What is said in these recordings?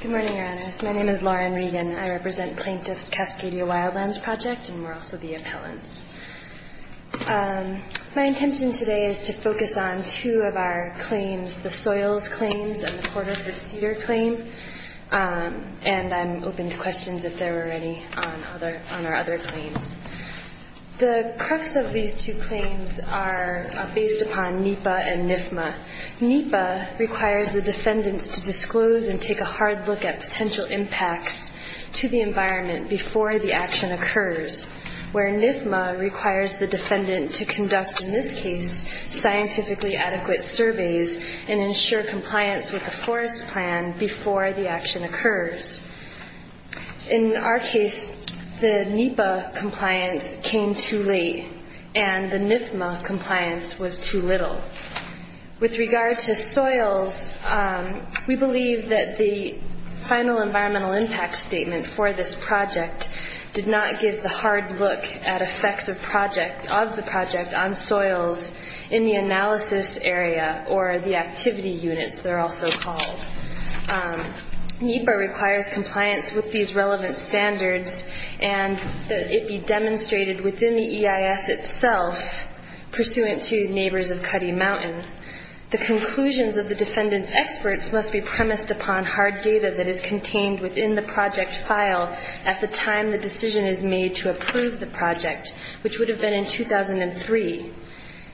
Good morning, your honors. My name is Lauren Regan. I represent plaintiffs Cascadia Wildlands Project and we're also the appellants. My intention today is to focus on two of our claims, the Soils Claims and the Porterford Cedar Claim. And I'm open to questions if there are any on our other claims. The crux of these two claims are based upon NEPA and NIFMA. NEPA requires the defendants to disclose and take a hard look at potential impacts to the environment before the action occurs. Where NIFMA requires the defendant to conduct, in this case, scientifically adequate surveys and ensure compliance with the forest plan before the action occurs. In our case, the NEPA compliance came too late and the NIFMA compliance was too little. With regard to soils, we believe that the final environmental impact statement for this project did not give the hard look at effects of the project on soils in the analysis area or the activity units, they're also called. NEPA requires compliance with these relevant standards and that it be demonstrated within the EIS itself, pursuant to neighbors of Cuddy Mountain. The conclusions of the defendant's experts must be premised upon hard data that is contained within the project file at the time the decision is made to approve the project, which would have been in 2003.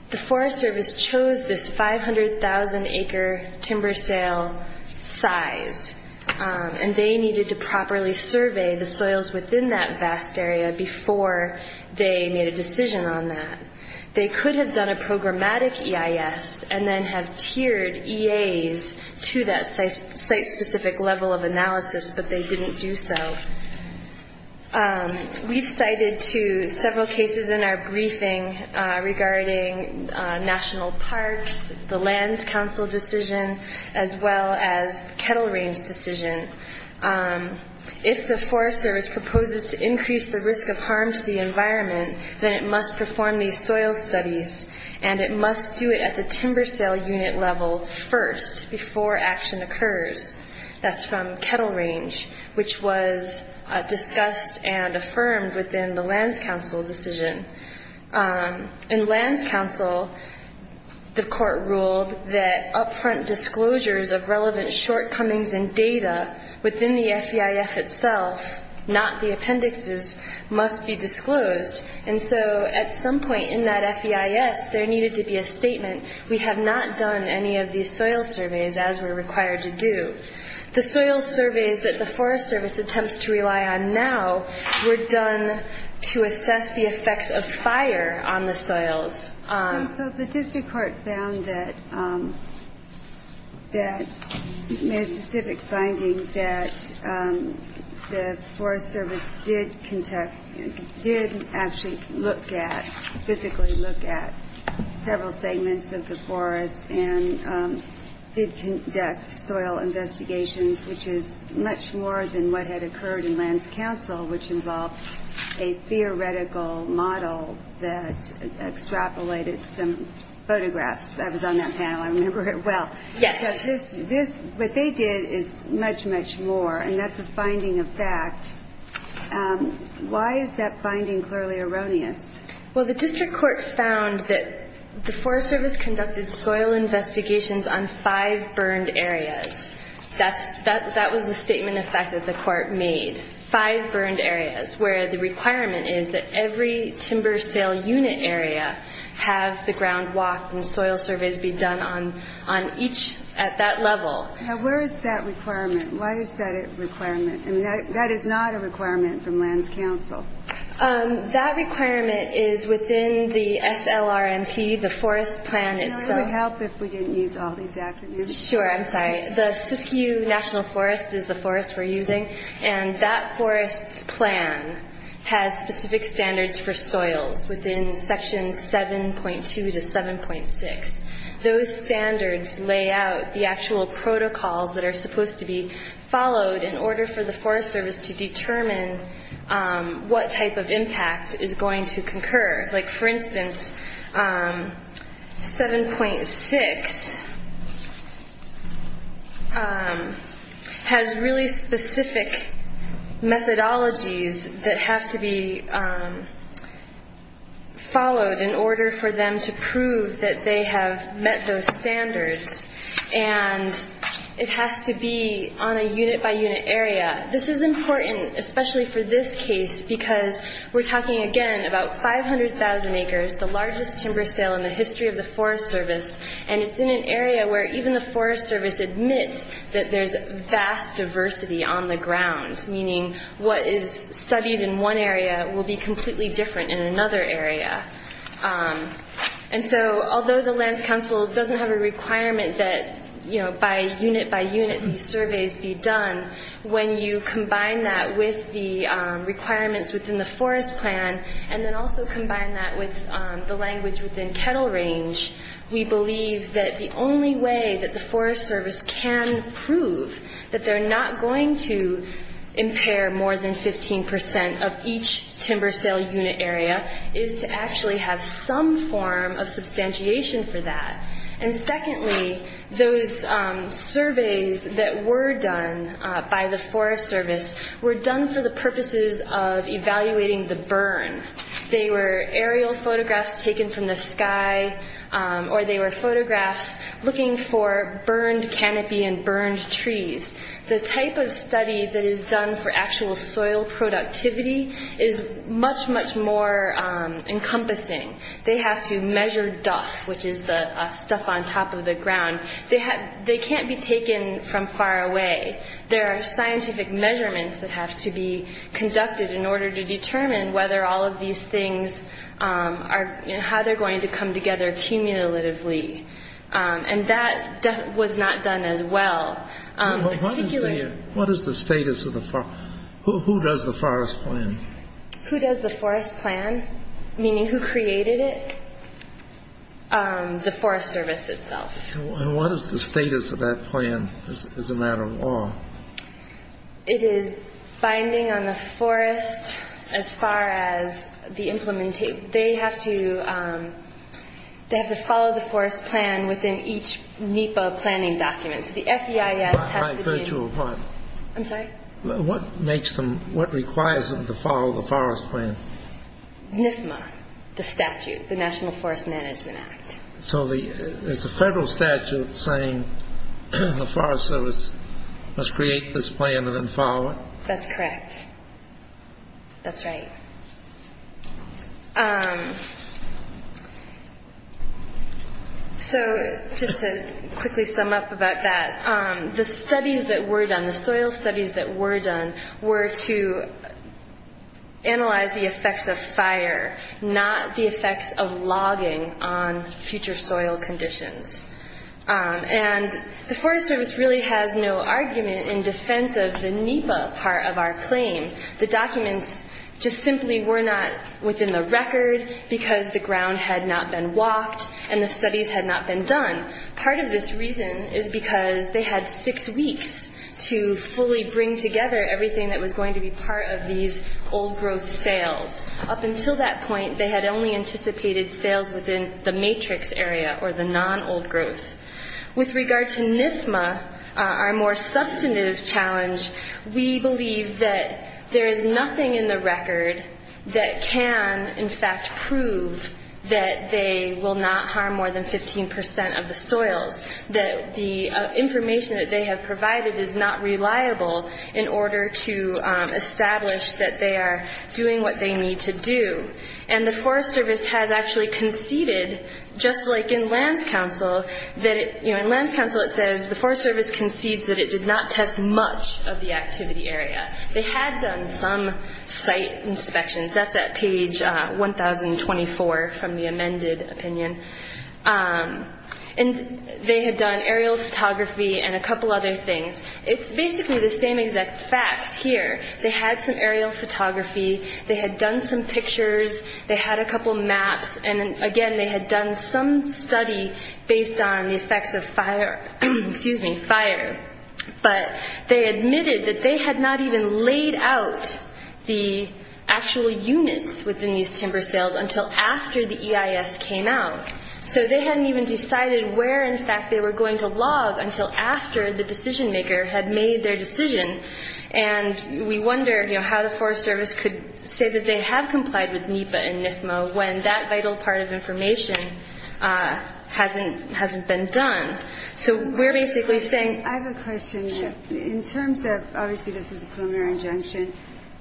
The Forest Service chose this 500,000-acre timber sale size and they needed to properly survey the soils within that vast area before they made a decision on that. They could have done a programmatic EIS and then have tiered EAs to that site-specific level of analysis, but they didn't do so. We've cited several cases in our briefing regarding national parks, the Lands Council decision, as well as Kettle Range decision. If the Forest Service proposes to increase the risk of harm to the environment, then it must perform these soil studies and it must do it at the timber sale unit level first before action occurs. That's from Kettle Range, which was discussed and affirmed within the Lands Council decision. In Lands Council, the court ruled that upfront disclosures of relevant shortcomings in data within the FEIF itself, not the appendixes, must be disclosed. At some point in that FEIS, there needed to be a statement, we have not done any of these soil surveys as we're required to do. The soil surveys that the Forest Service attempts to rely on now were done to assess the effects of fire on the soils. So the district court found that, made a specific finding that the Forest Service did conduct, did actually look at, physically look at, several segments of the forest and did conduct soil investigations, which is much more than what had occurred in Lands Council, which involved a theoretical model that extrapolated some photographs. I was on that panel, I remember it well. Yes. What they did is much, much more, and that's a finding of fact. Why is that finding clearly erroneous? Well, the district court found that the Forest Service conducted soil investigations on five burned areas. That was the statement of fact that the court made, five burned areas, where the requirement is that every timber sale unit area have the ground walk and soil surveys be done on each at that level. Now, where is that requirement? Why is that a requirement? I mean, that is not a requirement from Lands Council. That requirement is within the SLRMP, the forest plan itself. Can I have a help if we didn't use all these attributes? Sure, I'm sorry. The Siskiyou National Forest is the forest we're using, and that forest's plan has specific standards for soils within sections 7.2 to 7.6. Those standards lay out the actual protocols that are supposed to be followed in order for the Forest Service to determine what type of impact is going to concur. Like, for instance, 7.6 has really specific methodologies that have to be followed in order for them to prove that they have met those standards, and it has to be on a unit-by-unit area. This is important, especially for this case, because we're talking, again, about 500,000 acres, the largest timber sale in the history of the Forest Service, and it's in an area where even the Forest Service admits that there's vast diversity on the ground, meaning what is studied in one area will be completely different in another area. And so although the Lands Council doesn't have a requirement that by unit-by-unit these surveys be done, when you combine that with the requirements within the forest plan and then also combine that with the language within Kettle Range, we believe that the only way that the Forest Service can prove that they're not going to impair more than 15 percent of each timber sale unit area is to actually have some form of substantiation for that. And secondly, those surveys that were done by the Forest Service were done for the purposes of evaluating the burn. They were aerial photographs taken from the sky, or they were photographs looking for burned canopy and burned trees. The type of study that is done for actual soil productivity is much, much more encompassing. They have to measure duff, which is the stuff on top of the ground. They can't be taken from far away. There are scientific measurements that have to be conducted in order to determine whether all of these things are – how they're going to come together cumulatively, and that was not done as well. What is the status of the – who does the forest plan? Who does the forest plan, meaning who created it? The Forest Service itself. And what is the status of that plan as a matter of law? It is binding on the forest as far as the – they have to follow the forest plan within each NEPA planning document. So the FEIS has to be – By virtue of what? I'm sorry? What makes them – what requires them to follow the forest plan? NFMA, the statute, the National Forest Management Act. So the – it's a federal statute saying the Forest Service must create this plan and then follow it? That's correct. That's right. So just to quickly sum up about that, the studies that were done, the soil studies that were done, were to analyze the effects of fire, not the effects of logging on future soil conditions. And the Forest Service really has no argument in defense of the NEPA part of our claim. The documents just simply were not within the record because the ground had not been walked and the studies had not been done. Part of this reason is because they had six weeks to fully bring together everything that was going to be part of these old growth sales. Up until that point, they had only anticipated sales within the matrix area or the non-old growth. With regard to NFMA, our more substantive challenge, we believe that there is nothing in the record that can in fact prove that they will not harm more than 15 percent of the soils, that the information that they have provided is not reliable in order to establish that they are doing what they need to do. And the Forest Service has actually conceded, just like in Lands Council, that it, you know, in Lands Council it says, the Forest Service concedes that it did not test much of the activity area. They had done some site inspections. That's at page 1024 from the amended opinion. And they had done aerial photography and a couple other things. It's basically the same exact facts here. They had some aerial photography. They had done some pictures. They had a couple maps. And again, they had done some study based on the effects of fire. But they admitted that they had not even laid out the actual units within these timber sales until after the EIS came out. So they hadn't even decided where in fact they were going to log until after the decision maker had made their decision. And we wonder, you know, how the Forest Service could say that they have complied with NEPA and NIFMA when that vital part of information hasn't been done. So we're basically saying- I have a question. Sure. In terms of, obviously this is a preliminary injunction,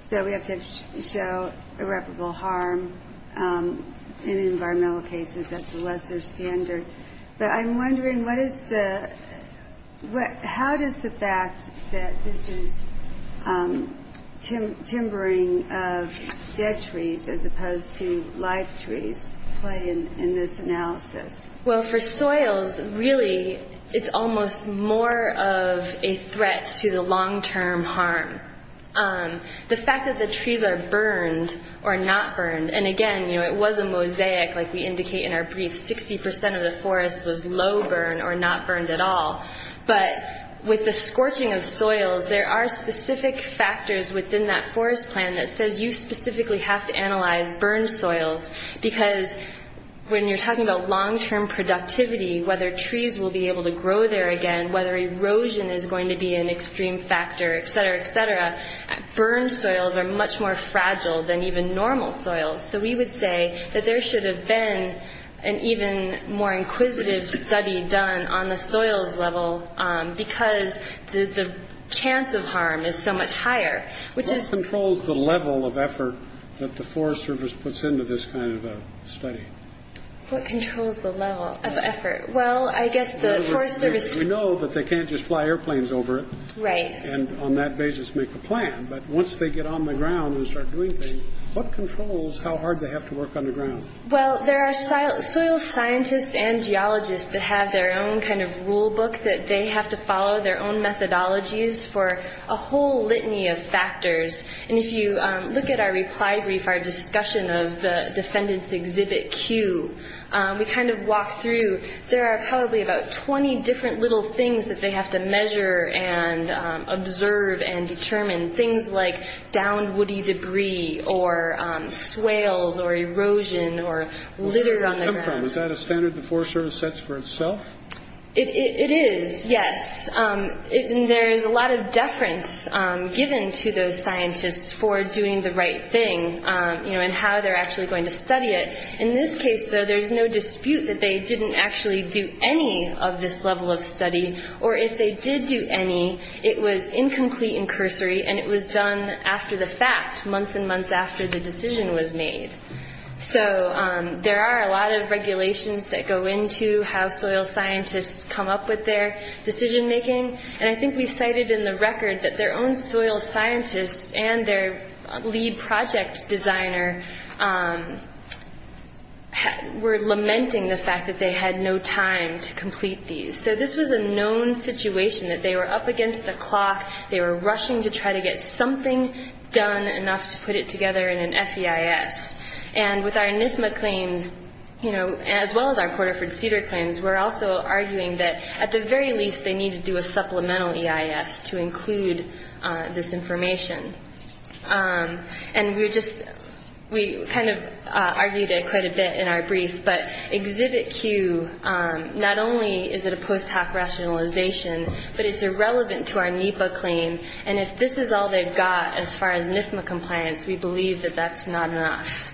so we have to show irreparable harm in environmental cases. That's a lesser standard. But I'm wondering, how does the fact that this is timbering of dead trees as opposed to live trees play in this analysis? Well, for soils, really it's almost more of a threat to the long-term harm. The fact that the trees are burned or not burned- And again, you know, it was a mosaic, like we indicate in our brief. Sixty percent of the forest was low burn or not burned at all. But with the scorching of soils, there are specific factors within that forest plan that says you specifically have to analyze burned soils. Because when you're talking about long-term productivity, whether trees will be able to grow there again, whether erosion is going to be an extreme factor, et cetera, et cetera, burned soils are much more fragile than even normal soils. So we would say that there should have been an even more inquisitive study done on the soils level, because the chance of harm is so much higher, which is- What controls the level of effort that the Forest Service puts into this kind of a study? What controls the level of effort? Well, I guess the Forest Service- We know that they can't just fly airplanes over it. Right. And on that basis make a plan. But once they get on the ground and start doing things, what controls how hard they have to work on the ground? Well, there are soil scientists and geologists that have their own kind of rulebook that they have to follow, their own methodologies for a whole litany of factors. And if you look at our reply brief, our discussion of the defendant's exhibit Q, we kind of walk through. There are probably about 20 different little things that they have to measure and observe and determine, things like downed woody debris or swales or erosion or litter on the ground. Was that a standard the Forest Service sets for itself? It is, yes. There is a lot of deference given to those scientists for doing the right thing, you know, and how they're actually going to study it. In this case, though, there's no dispute that they didn't actually do any of this level of study. Or if they did do any, it was incomplete and cursory, and it was done after the fact, months and months after the decision was made. So there are a lot of regulations that go into how soil scientists come up with their decision making. And I think we cited in the record that their own soil scientists and their lead project designer were lamenting the fact that they had no time to complete these. So this was a known situation, that they were up against the clock, they were rushing to try to get something done enough to put it together in an FEIS. And with our NIFMA claims, you know, as well as our Porterford Cedar claims, we're also arguing that at the very least they need to do a supplemental EIS to include this information. And we just, we kind of argued it quite a bit in our brief. But Exhibit Q, not only is it a post hoc rationalization, but it's irrelevant to our NEPA claim. And if this is all they've got as far as NIFMA compliance, we believe that that's not enough.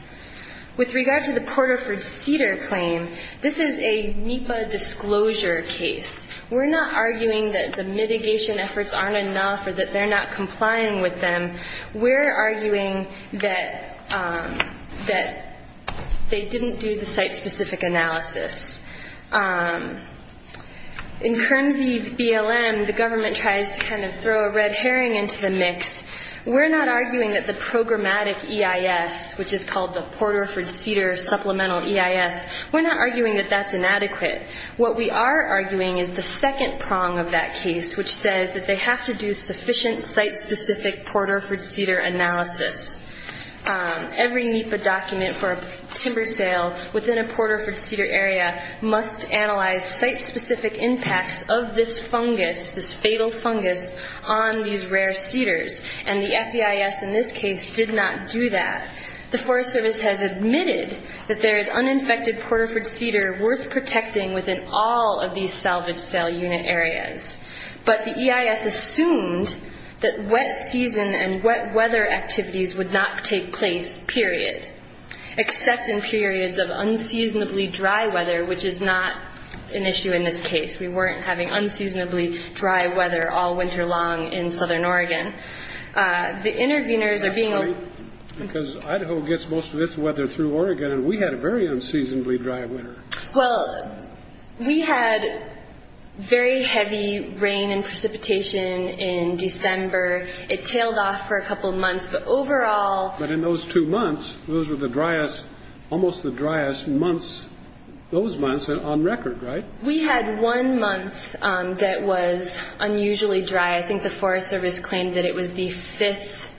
With regard to the Porterford Cedar claim, this is a NEPA disclosure case. We're not arguing that the mitigation efforts aren't enough or that they're not complying with them. We're arguing that they didn't do the site-specific analysis. In Kern V BLM, the government tries to kind of throw a red herring into the mix. We're not arguing that the programmatic EIS, which is called the Porterford Cedar Supplemental EIS, we're not arguing that that's inadequate. What we are arguing is the second prong of that case, which says that they have to do sufficient site-specific Porterford Cedar analysis. Every NEPA document for a timber sale within a Porterford Cedar area must analyze site-specific impacts of this fungus, this fatal fungus, on these rare cedars. And the FEIS in this case did not do that. The Forest Service has admitted that there is uninfected Porterford Cedar worth protecting within all of these salvage sale unit areas. But the EIS assumed that wet season and wet weather activities would not take place, period, except in periods of unseasonably dry weather, which is not an issue in this case. We weren't having unseasonably dry weather all winter long in southern Oregon. The interveners are being... Because Idaho gets most of its weather through Oregon, and we had a very unseasonably dry winter. Well, we had very heavy rain and precipitation in December. It tailed off for a couple months, but overall... But in those two months, those were the driest, almost the driest months, those months on record, right? We had one month that was unusually dry. I think the Forest Service claimed that it was the fifth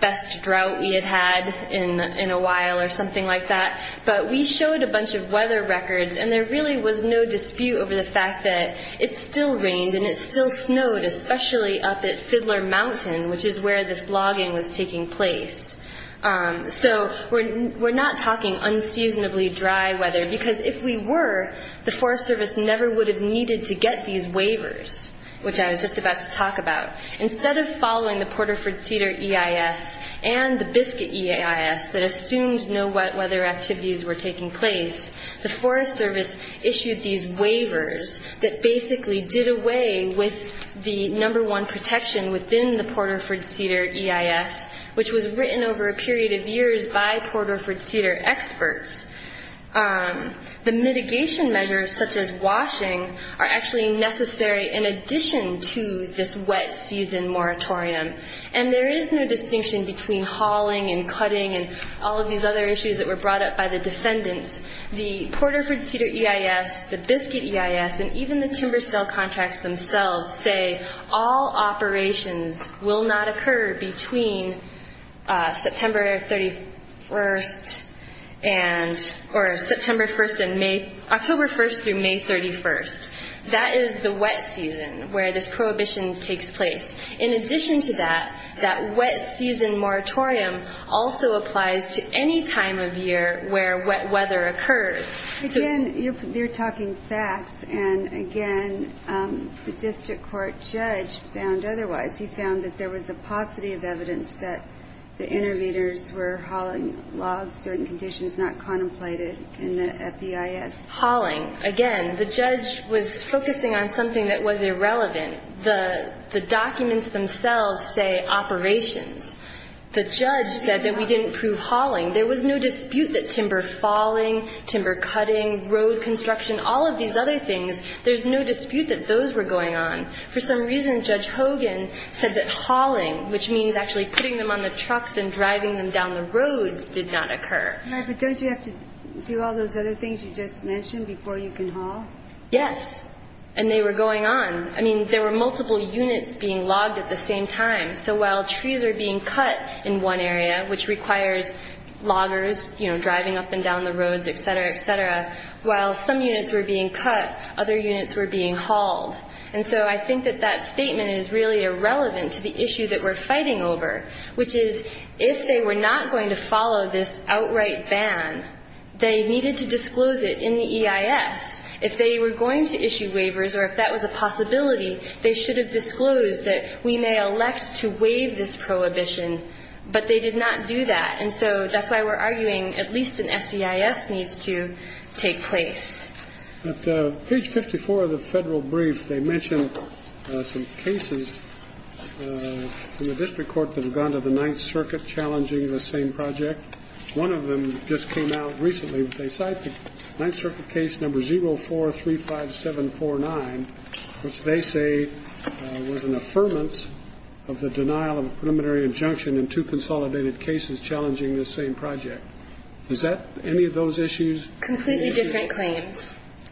best drought we had had in a while or something like that. But we showed a bunch of weather records, and there really was no dispute over the fact that it still rained and it still snowed, especially up at Fiddler Mountain, which is where this logging was taking place. So we're not talking unseasonably dry weather, because if we were, the Forest Service never would have needed to get these waivers, which I was just about to talk about. Instead of following the Porterford Cedar EIS and the Biscuit EIS that assumed no wet weather activities were taking place, the Forest Service issued these waivers that basically did away with the number one protection within the Porterford Cedar EIS, which was written over a period of years by Porterford Cedar experts. The mitigation measures, such as washing, are actually necessary in addition to this wet season moratorium. And there is no distinction between hauling and cutting and all of these other issues that were brought up by the defendants. The Porterford Cedar EIS, the Biscuit EIS, and even the timber sale contracts themselves say all operations will not occur between September 31st and, or September 1st and May, October 1st through May 31st. That is the wet season where this prohibition takes place. In addition to that, that wet season moratorium also applies to any time of year where wet weather occurs. Again, you're talking facts, and again, the district court judge found otherwise. He found that there was a paucity of evidence that the innovators were hauling logs during conditions not contemplated in the FBIS. Hauling, again, the judge was focusing on something that was irrelevant. The documents themselves say operations. The judge said that we didn't prove hauling. There was no dispute that timber falling, timber cutting, road construction, all of these other things, there's no dispute that those were going on. For some reason, Judge Hogan said that hauling, which means actually putting them on the trucks and driving them down the roads, did not occur. No, but don't you have to do all those other things you just mentioned before you can haul? Yes, and they were going on. I mean, there were multiple units being logged at the same time. So while trees are being cut in one area, which requires loggers driving up and down the roads, et cetera, et cetera, while some units were being cut, other units were being hauled. And so I think that that statement is really irrelevant to the issue that we're fighting over, which is if they were not going to follow this outright ban, they needed to disclose it in the EIS. If they were going to issue waivers or if that was a possibility, they should have disclosed that we may elect to waive this prohibition. But they did not do that, and so that's why we're arguing at least an SEIS needs to take place. At page 54 of the federal brief, they mention some cases in the district court that have gone to the Ninth Circuit challenging the same project. One of them just came out recently, but they cite the Ninth Circuit case number 0435749, which they say was an affirmance of the denial of a preliminary injunction and two consolidated cases challenging the same project. Is that any of those issues? Completely different claims.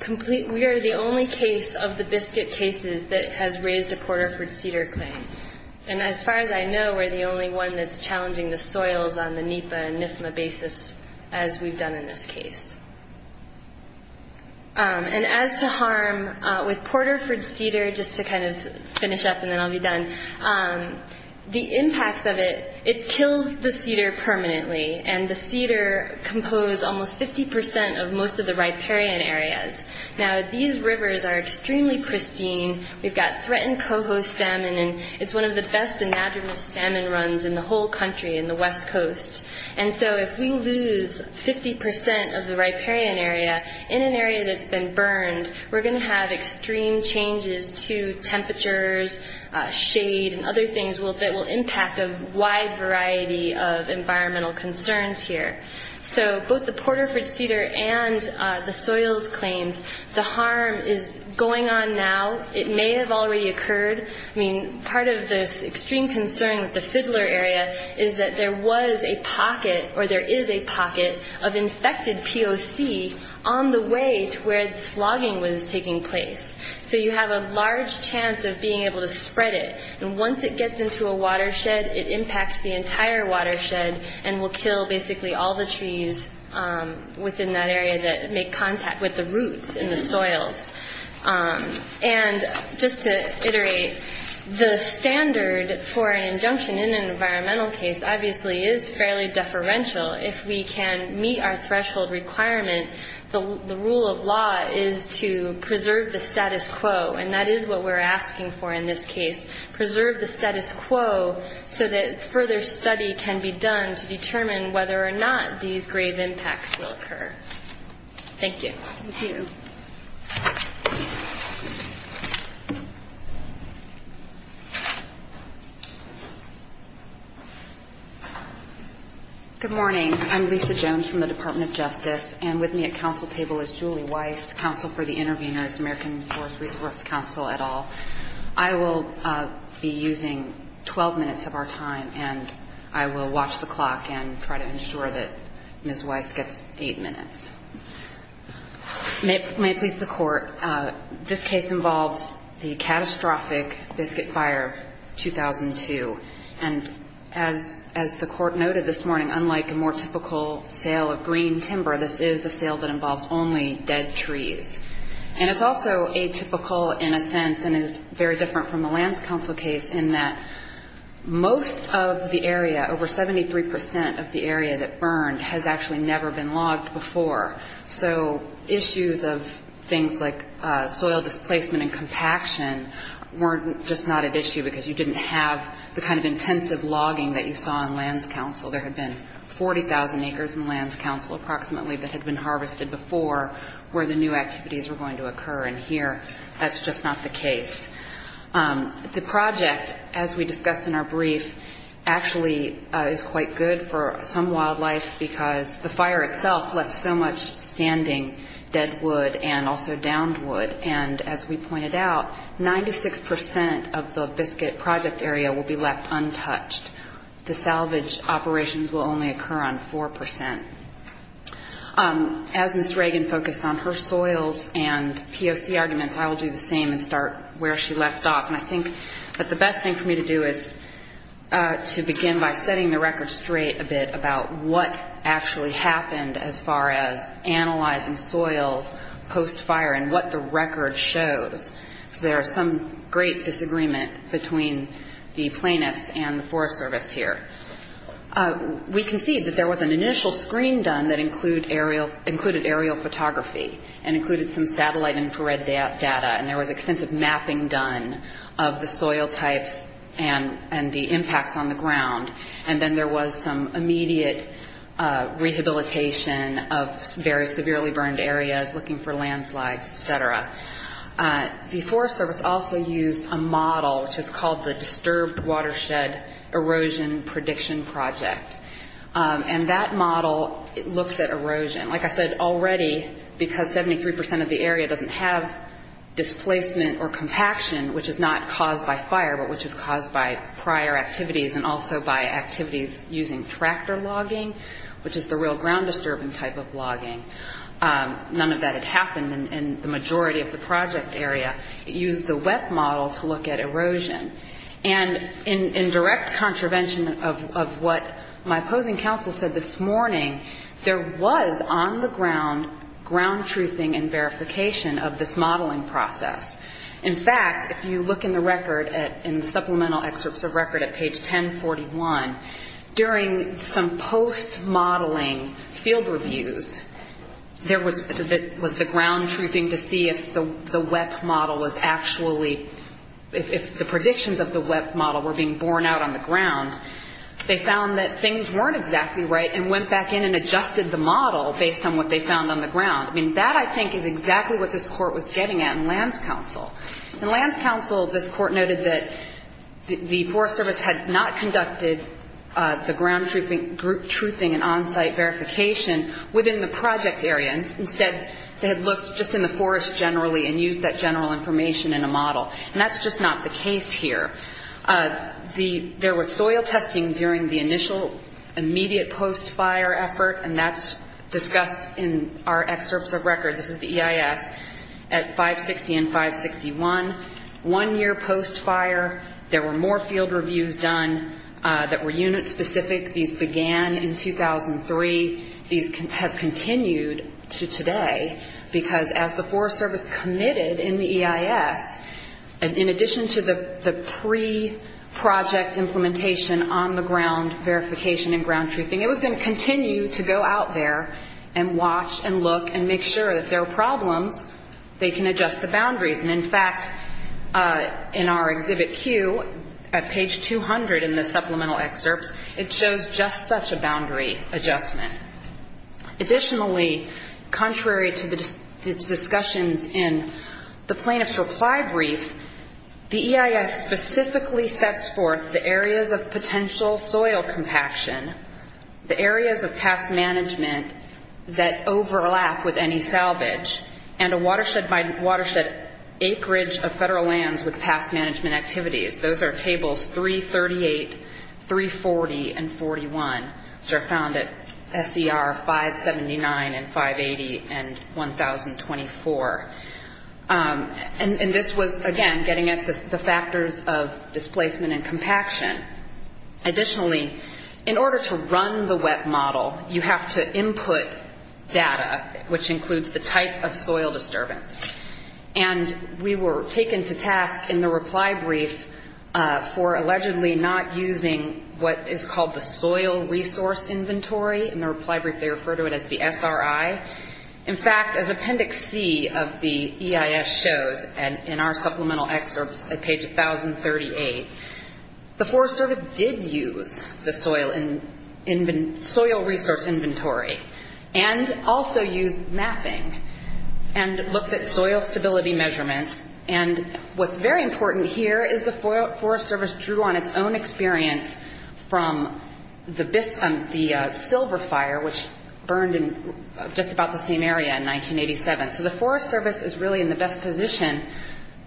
We are the only case of the Biscuit cases that has raised a Porterford Cedar claim, and as far as I know, we're the only one that's challenging the soils on the NEPA and NIFMA basis, as we've done in this case. And as to harm with Porterford Cedar, just to kind of finish up and then I'll be done, the impacts of it, it kills the cedar permanently, and the cedar compose almost 50 percent of most of the riparian area. Now, these rivers are extremely pristine. We've got threatened coho salmon, and it's one of the best enagement salmon runs in the whole country in the West Coast. And so if we lose 50 percent of the riparian area in an area that's been burned, we're going to have extreme changes to temperatures, shade, and other things that will impact a wide variety of environmental concerns here. So both the Porterford Cedar and the soils claims, the harm is going on now. It may have already occurred. I mean, part of this extreme concern with the Fiddler area is that there was a pocket, or there is a pocket, of infected POC on the way to where this logging was taking place. So you have a large chance of being able to spread it. And once it gets into a watershed, it impacts the entire watershed and will kill basically all the trees within that area that make contact with the roots and the soils. And just to iterate, the standard for an injunction in an environmental case obviously is fairly deferential. If we can meet our threshold requirement, the rule of law is to preserve the status quo, and that is what we're asking for in this case. Preserve the status quo so that further study can be done to determine whether or not these grave impacts will occur. Thank you. Good morning, I'm Lisa Jones from the Department of Justice, and with me at council table is Julie Weiss, counsel for the intervenors, American Forest Resource Council at all. I will be using 12 minutes of our time, and I will watch the clock and try to ensure that Ms. Weiss gets eight minutes. May it please the Court, this case involves the catastrophic Biscuit Fire of 2002. And as the Court noted this morning, unlike a more typical sale of green timber, this is a sale that involves only dead trees. And it's also atypical in a sense, and it's very different from the lands council case in that most of the area, over 73 percent of the area that burned has actually never been logged before. So issues of things like soil displacement and compaction weren't just not an issue because you didn't have the kind of intensive logging that you saw in lands council. There had been 40,000 acres in lands council approximately that had been harvested before where the new activities were going to occur. And here, that's just not the case. The project, as we discussed in our brief, actually is quite good for some wildlife because the fire itself left so much standing dead wood and also downed wood, and as we pointed out, 96 percent of the biscuit project area will be left untouched. The salvage operations will only occur on 4 percent. As Ms. Reagan focused on her soils and POC arguments, I will do the same and start where she left off. And I think that the best thing for me to do is to begin by setting the record straight a bit about what actually happened as far as analyzing soils post-fire and what the record shows. So there is some great disagreement between the plaintiffs and the Forest Service here. We can see that there was an initial screen done that included aerial photography and included some satellite infrared data, and there was extensive mapping done of the soil types and the impacts on the ground, and then there was some immediate rehabilitation of very early on. The Forest Service also used a model, which is called the Disturbed Watershed Erosion Prediction Project, and that model looks at erosion. Like I said, already, because 73 percent of the area doesn't have displacement or compaction, which is not caused by fire, but which is caused by prior activities and also by activities using tractor logging, which is the real ground-disturbing type of logging. None of that had happened in the majority of the project area. It used the WEP model to look at erosion. And in direct contravention of what my opposing counsel said this morning, there was on the ground ground-truthing and verification of this modeling process. In fact, if you look in the record, in the supplemental excerpts of record at page 1041, during some post-modeling field reviews, there was the ground-truthing to see if the WEP model was actually, if the predictions of the WEP model were being borne out on the ground. They found that things weren't exactly right and went back in and adjusted the model based on what they found on the ground. I mean, that, I think, is exactly what this Court was getting at in Land's counsel. In Land's counsel, this Court noted that the Forest Service had not conducted the ground-truthing group survey, and that was not a ground-truthing and on-site verification within the project area. Instead, they had looked just in the forest generally and used that general information in a model. And that's just not the case here. There was soil testing during the initial immediate post-fire effort, and that's discussed in our excerpts of record. This is the EIS at 560 and 561. One year post-fire, there were more field reviews done that were unit-specific. These began in 2003. These have continued to today, because as the Forest Service committed in the EIS, in addition to the pre-project implementation on the ground verification and ground-truthing, it was going to continue to go out there and watch and look and make sure that if there were problems, they can adjust the boundaries. And, in fact, in our Exhibit Q, at page 200 in the Exhibit Q, we have a very clear boundary adjustment. Additionally, contrary to the discussions in the Plaintiff's Reply Brief, the EIS specifically sets forth the areas of potential soil compaction, the areas of past management that overlap with any salvage, and a watershed-by-watershed acreage of Federal lands with past management activities. Those are Tables 338, 340, and 41, which are found at SCR 579 and 580 and 1024. And this was, again, getting at the factors of displacement and compaction. Additionally, in order to run the WET model, you have to input data, which includes the type of soil disturbance. And we were taken to task in the Reply Brief for allegedly not using what is called the Soil Resource Index, which is the type of soil disturbance that is found in the inventory. In the Reply Brief, they refer to it as the SRI. In fact, as Appendix C of the EIS shows, and in our Supplemental Excerpts at page 1038, the Forest Service did use the Soil Resource Inventory and also used mapping and looked at soil stability measurements. And what's very important here is the Forest Service drew on its own experience from the Silver Fire, which burned in just about the same area in 1987. So the Forest Service is really in the best position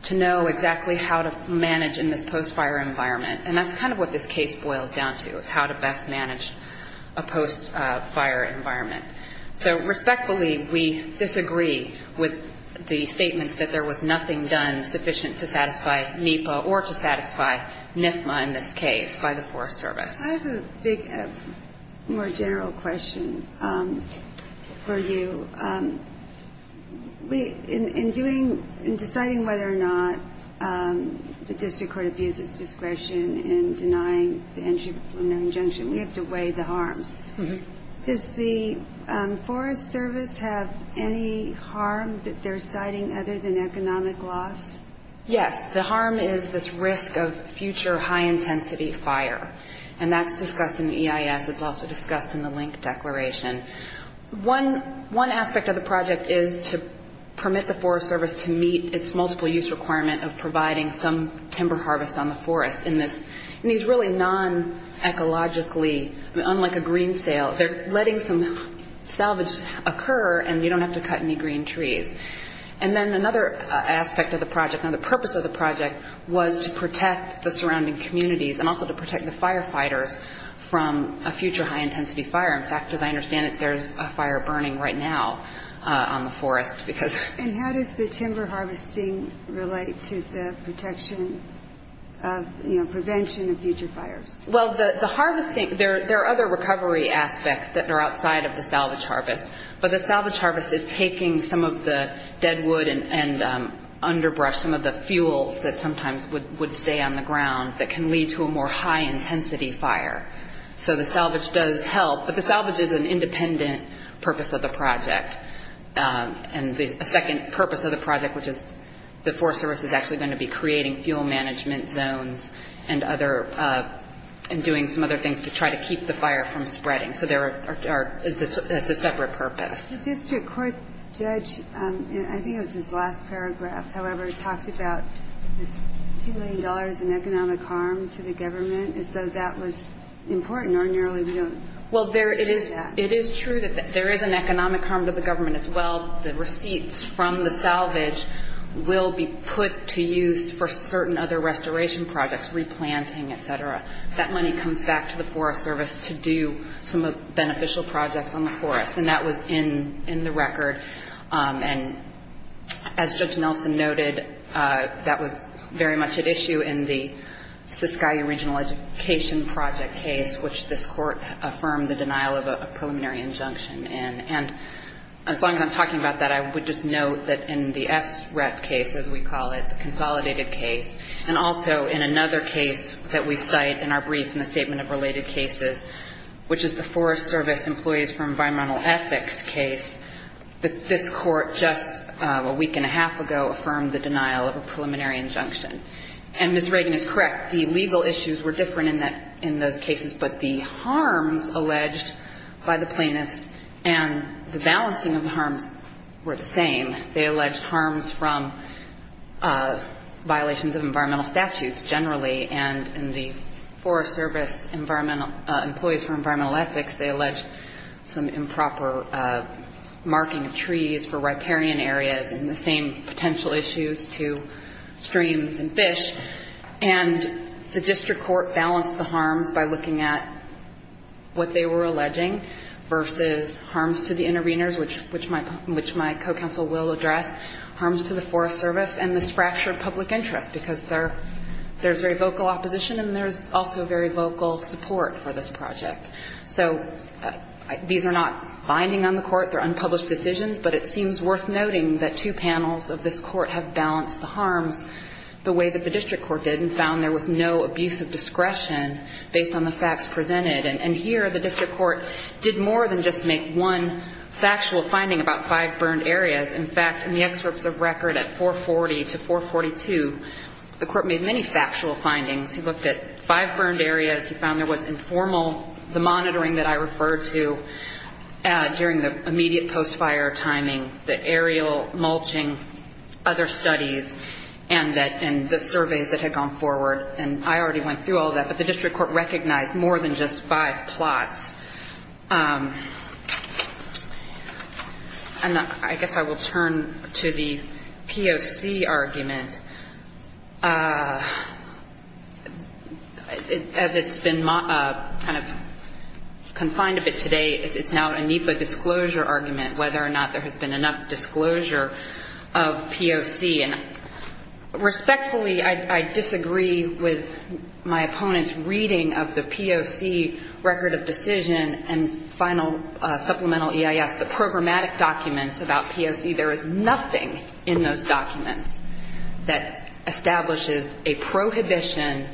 to know exactly how to manage in this post-fire environment. And that's kind of what this case boils down to, is how to best manage a post-fire environment. So respectfully, we disagree with the statements that there was nothing done sufficient to satisfy NEPA or to satisfy NIFMA in this case by the Forest Service. I have a general question for you. In doing, in deciding whether or not the district court abuses discretion in denying the entry from no injunction, we have to weigh the harms. Does the Forest Service have any harm that they're citing other than economic loss? Yes. The harm is this risk of future high-intensity fire. And that's discussed in EIS. It's also discussed in the Soil Resource and the Link Declaration. One aspect of the project is to permit the Forest Service to meet its multiple-use requirement of providing some timber harvest on the forest in this, in these really non-ecologically, unlike a green sale, they're letting some salvage occur and you don't have to cut any green trees. And then another aspect of the project, and the purpose of the project, was to protect the surrounding communities and also to protect the firefighters from a future high-intensity fire. In fact, as I understand it, there's a fire burning right now on the forest because... And how does the timber harvesting relate to the protection of, you know, prevention of future fires? Well, the harvesting, there are other recovery aspects that are outside of the salvage harvest, but the salvage harvest is taking some of the dead wood and underbrush, some of the fuels that sometimes would stay on the ground that can lead to a more high-intensity fire. So the salvage does help, but the salvage is an independent purpose of the project. And the second purpose of the project, which is the Forest Service is actually going to be creating fuel management zones and other, and doing some other things to try to keep the fire from spreading. So there are, it's a separate purpose. The district court judge, I think it was his last paragraph, however, talked about this $2 million in economic harm to the government. Is that true? So that was important, or nearly we don't... Well, it is true that there is an economic harm to the government as well. The receipts from the salvage will be put to use for certain other restoration projects, replanting, et cetera. That money comes back to the Forest Service to do some beneficial projects on the forest, and that was in the record. And as Judge Nelson noted, that was very much at issue in the Siskiyou Regional Education Project case, which this Court affirmed the denial of a preliminary injunction in. And as long as I'm talking about that, I would just note that in the SREP case, as we call it, the consolidated case, and also in another case that we cite in our brief in the statement of related cases, which is the Forest Service Employees for Environmental Ethics case, that this Court just a week and a half ago affirmed the denial of a preliminary injunction. And Ms. Reagan is correct. The legal issues were different in that case. But the harms alleged by the plaintiffs and the balancing of the harms were the same. They alleged harms from violations of environmental statutes generally, and in the Forest Service Employees for Environmental Ethics, they alleged some improper marking of trees for riparian areas and the same potential issues to streams and fish. And the district court balanced the harm by looking at what they were alleging versus harms to the interveners, which my co-counsel will address, harms to the Forest Service, and this fracture of public interest, because there's very vocal opposition and there's also very vocal support for this project. So these are not binding on the Court. They're unpublished decisions. But it seems worth noting that two panels of this Court have balanced the harms the way that the district court did and found there was no abuse of discretion in the case based on the facts presented. And here the district court did more than just make one factual finding about five burned areas. In fact, in the excerpts of record at 440 to 442, the court made many factual findings. He looked at five burned areas. He found there was informal, the monitoring that I referred to during the immediate post-fire timing, the aerial mulching, other studies, and the surveys that had gone forward. And I already went through all of that. But the district court recognized that more than just five plots. And I guess I will turn to the POC argument. As it's been kind of confined a bit today, it's now a NEPA disclosure argument, whether or not there has been enough disclosure of POC. And respectfully, I disagree with my opponent's reading of the NEPA disclosure of the POC record of decision and final supplemental EIS, the programmatic documents about POC. There is nothing in those documents that establishes a prohibition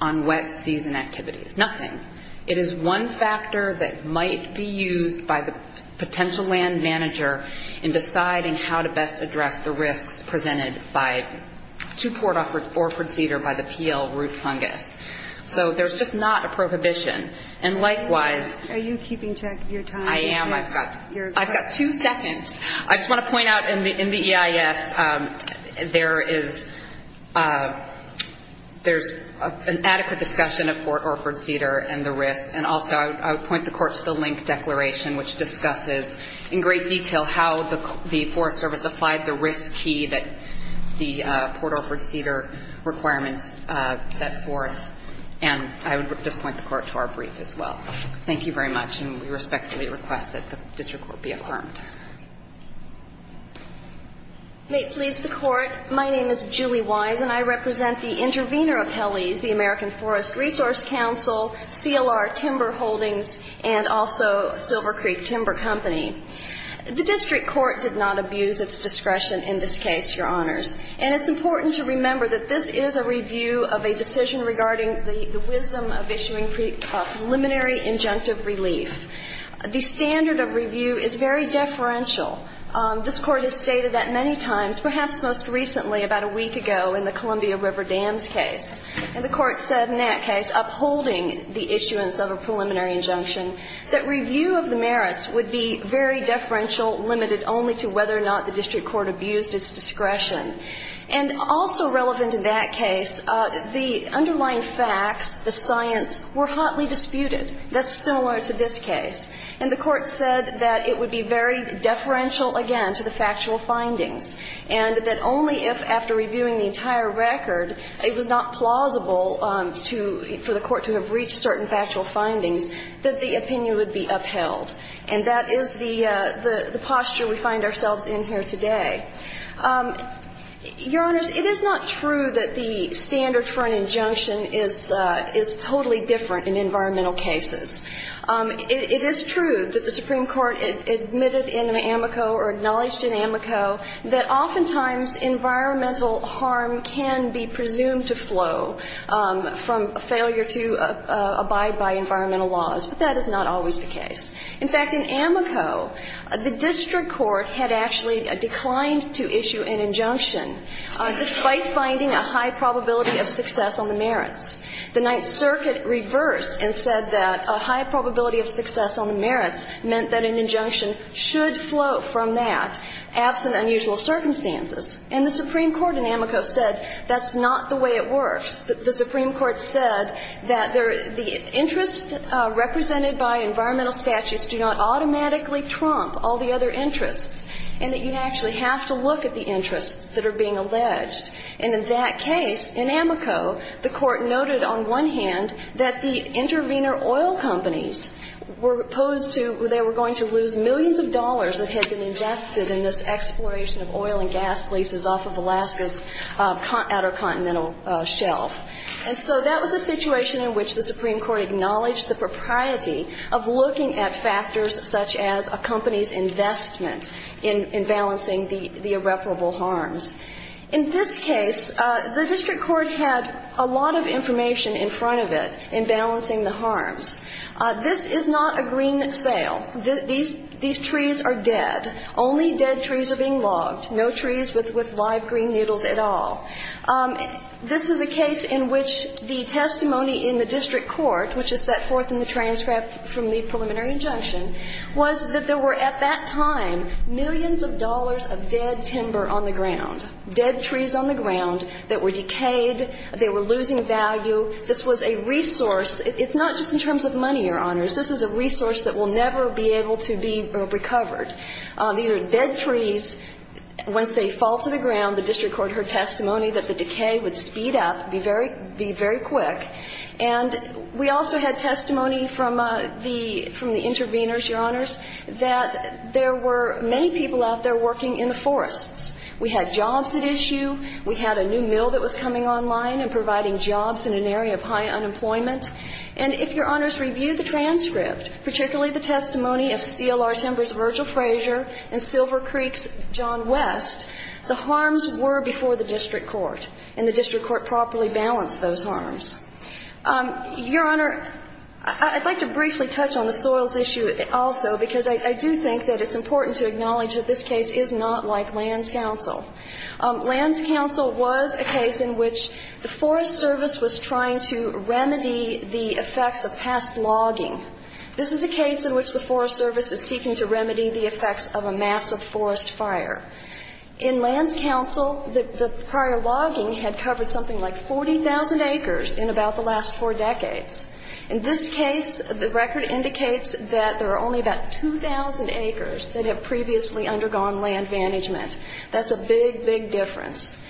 on wet season activities. Nothing. It is one factor that might be used by the potential land manager in deciding how to best address the risks presented by two-port or ford cedar by the PL root fungus. So there's just not a prohibition. And likewise, I've got two seconds. I just want to point out in the EIS, there is an adequate discussion of port or ford cedar and the risk. And also I would point the court to the link declaration, which discusses in great detail how the Forest Service applied the risk key that the port or ford cedar requirements set forth. And I would just point the court to our brief as well. Thank you very much. And we respectfully request that the district court be affirmed. May it please the court, my name is Julie Wise and I represent the intervener appellees, the American Forest Resource Council, CLR Timber Holdings, and also Silver Creek Timber Company. The district court did not abuse its discretion in this case, Your Honor, regarding the wisdom of issuing preliminary injunctive relief. The standard of review is very deferential. This court has stated that many times, perhaps most recently, about a week ago in the Columbia River Dams case. And the court said in that case, upholding the issuance of a preliminary injunction, that review of the merits would be very deferential, limited only to whether or not the district court abused its discretion. And also relevant in that case, the underlying merits of the facts, the science, were hotly disputed. That's similar to this case. And the court said that it would be very deferential, again, to the factual findings, and that only if, after reviewing the entire record, it was not plausible for the court to have reached certain factual findings, that the opinion would be upheld. And that is the posture we find ourselves in here today. Your Honors, it is not true that the standard for an injunction is totally different in environmental cases. It is true that the Supreme Court admitted in the amico, or acknowledged in amico, that oftentimes environmental harm can be presumed to flow from failure to abide by environmental laws. But that is not always the case. In fact, in amico, the district court had actually declined to issue an injunction, despite finding a high probability of success on the merits. The Ninth Circuit reversed and said that a high probability of success on the merits meant that an injunction should flow from that, absent unusual circumstances. And the Supreme Court in amico said that's not the way it works. The Supreme Court said that the interests represented by environmental statutes do not automatically trump all the other interests, and that you have to look at the interests that are being alleged. And in that case, in amico, the court noted on one hand that the intervenor oil companies were opposed to, they were going to lose millions of dollars that had been invested in this exploration of oil and gas leases off of Alaska's Outer Continental Shelf. And so that was a situation in which the Supreme Court acknowledged the propriety of looking at factors such as a company's investment in balancing its own interests. And in amico, the district court had actually declined to issue an injunction, despite finding a high probability of success on the merits meant that an injunction should flow from that, absent unusual circumstances. In this case, the district court had a lot of information in front of it in balancing the harms. This is not a green sale. These trees are dead. Only dead trees are being logged. No trees with live green needles at all. This is a case in which the district court had a lot of information in front of it in terms of dead timber on the ground, dead trees on the ground that were decayed, they were losing value. This was a resource. It's not just in terms of money, Your Honors. This is a resource that will never be able to be recovered. These are dead trees. Once they fall to the ground, the district court heard testimony that the decay would speed up, be very quick. And we also had testimony from the intervenors, Your Honors, that there were many people out there who were in the forests. We had jobs at issue. We had a new mill that was coming online and providing jobs in an area of high unemployment. And if Your Honors reviewed the transcript, particularly the testimony of CLR Timbers Virgil Frazier and Silver Creek's John West, the harms were before the district court, and the district court properly balanced those harms. Your Honor, I'd like to briefly touch on the soils issue also, because I do think that it's important to acknowledge that this case is not like Lands Council. Lands Council was a case in which the Forest Service was trying to remedy the effects of past logging. This is a case in which the Forest Service is seeking to remedy the effects of a massive forest fire. In Lands Council, the prior logging had covered something like 40,000 acres in about the last four decades. In this case, the record indicates that there are only about 2,000 acres that have previously undergone land management. That's a big, big difference.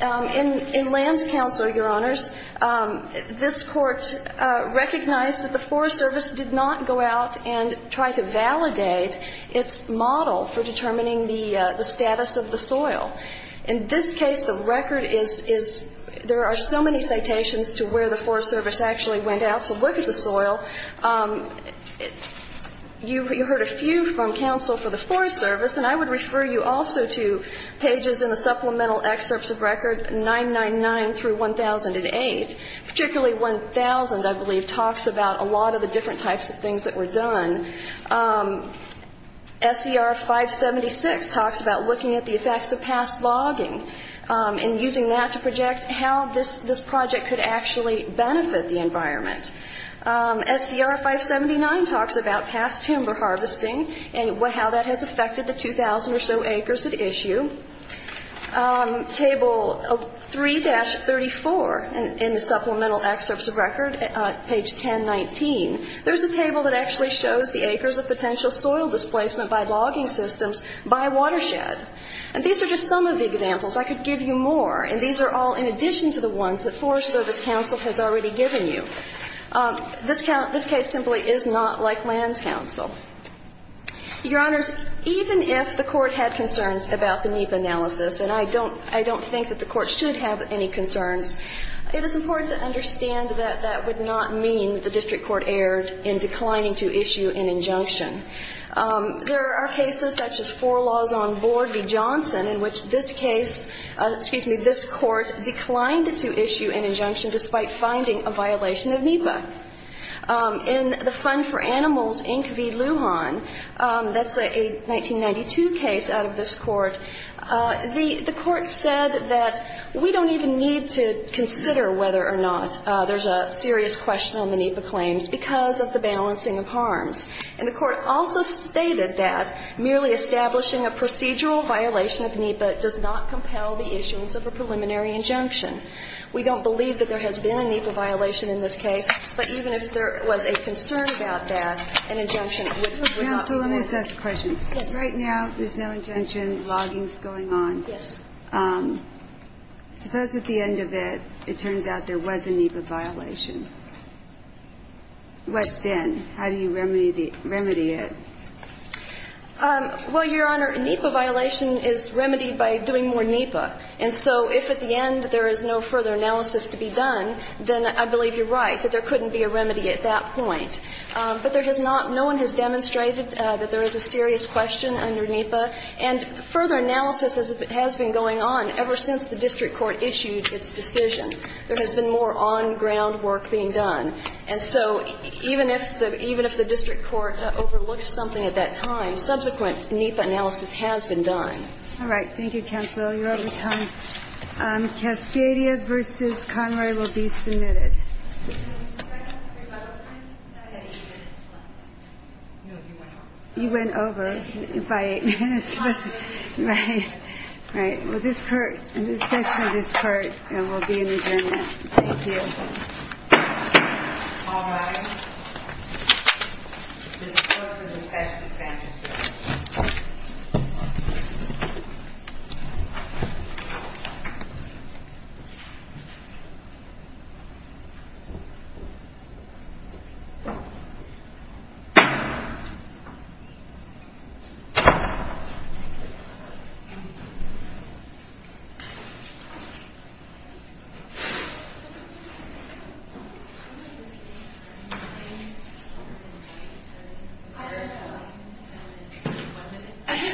In Lands Council, Your Honors, this Court recognized that the Forest Service did not go out and try to validate its model for determining the status of the soil. In this case, the record is there are so many citations to where the Forest Service actually went out to look at the soil. You heard a few from counsel for the Forest Service, and I would refer you also to pages in the supplemental excerpts of record 999 through 1008. Particularly 1000, I believe, talks about a lot of the different types of things that were done. SCR 576 talks about looking at the effects of past logging and using that to determine how the project could actually benefit the environment. SCR 579 talks about past timber harvesting and how that has affected the 2,000 or so acres at issue. Table 3-34 in the supplemental excerpts of record, page 1019, there's a table that actually shows the acres of potential soil displacement by logging systems by watershed. And these are just some of the ones that Forest Service counsel has already given you. This case simply is not like Lands Council. Your Honors, even if the Court had concerns about the NEPA analysis, and I don't think that the Court should have any concerns, it is important to understand that that would not mean the district court erred in declining to issue an injunction. There are cases such as Four Laws on Board v. Johnson in which this case, excuse me, this Court declined to issue an injunction. Despite finding a violation of NEPA. In the Fund for Animals, Inc. v. Lujan, that's a 1992 case out of this court, the Court said that we don't even need to consider whether or not there's a serious question on the NEPA claims because of the balancing of harms. And the Court also stated that merely establishing a procedural violation of NEPA does not compel the constituents of a preliminary injunction. We don't believe that there has been a NEPA violation in this case, but even if there was a concern about that, an injunction would not work. Counsel, let me just ask a question. Right now, there's no injunction, logging's going on. Yes. Suppose at the end of it, it turns out there was a NEPA violation. What then? How do you remedy it? Well, Your Honor, a NEPA violation is remedied by doing more NEPA. And so if at the end there is no further analysis to be done, then I believe you're right that there couldn't be a remedy at that point. But there has not no one has demonstrated that there is a serious question under NEPA. And further analysis has been going on ever since the district court issued its decision. There has been more on-ground work being done. And so even if the district court overlooked something at that time, subsequent NEPA analysis has been done. All right. Thank you, Counsel. You're out of time. Cascadia v. Conroy will be submitted. You went over by eight minutes. All right. Well, this court, this session of this court will be in adjournment. Thank you. This court is adjourned.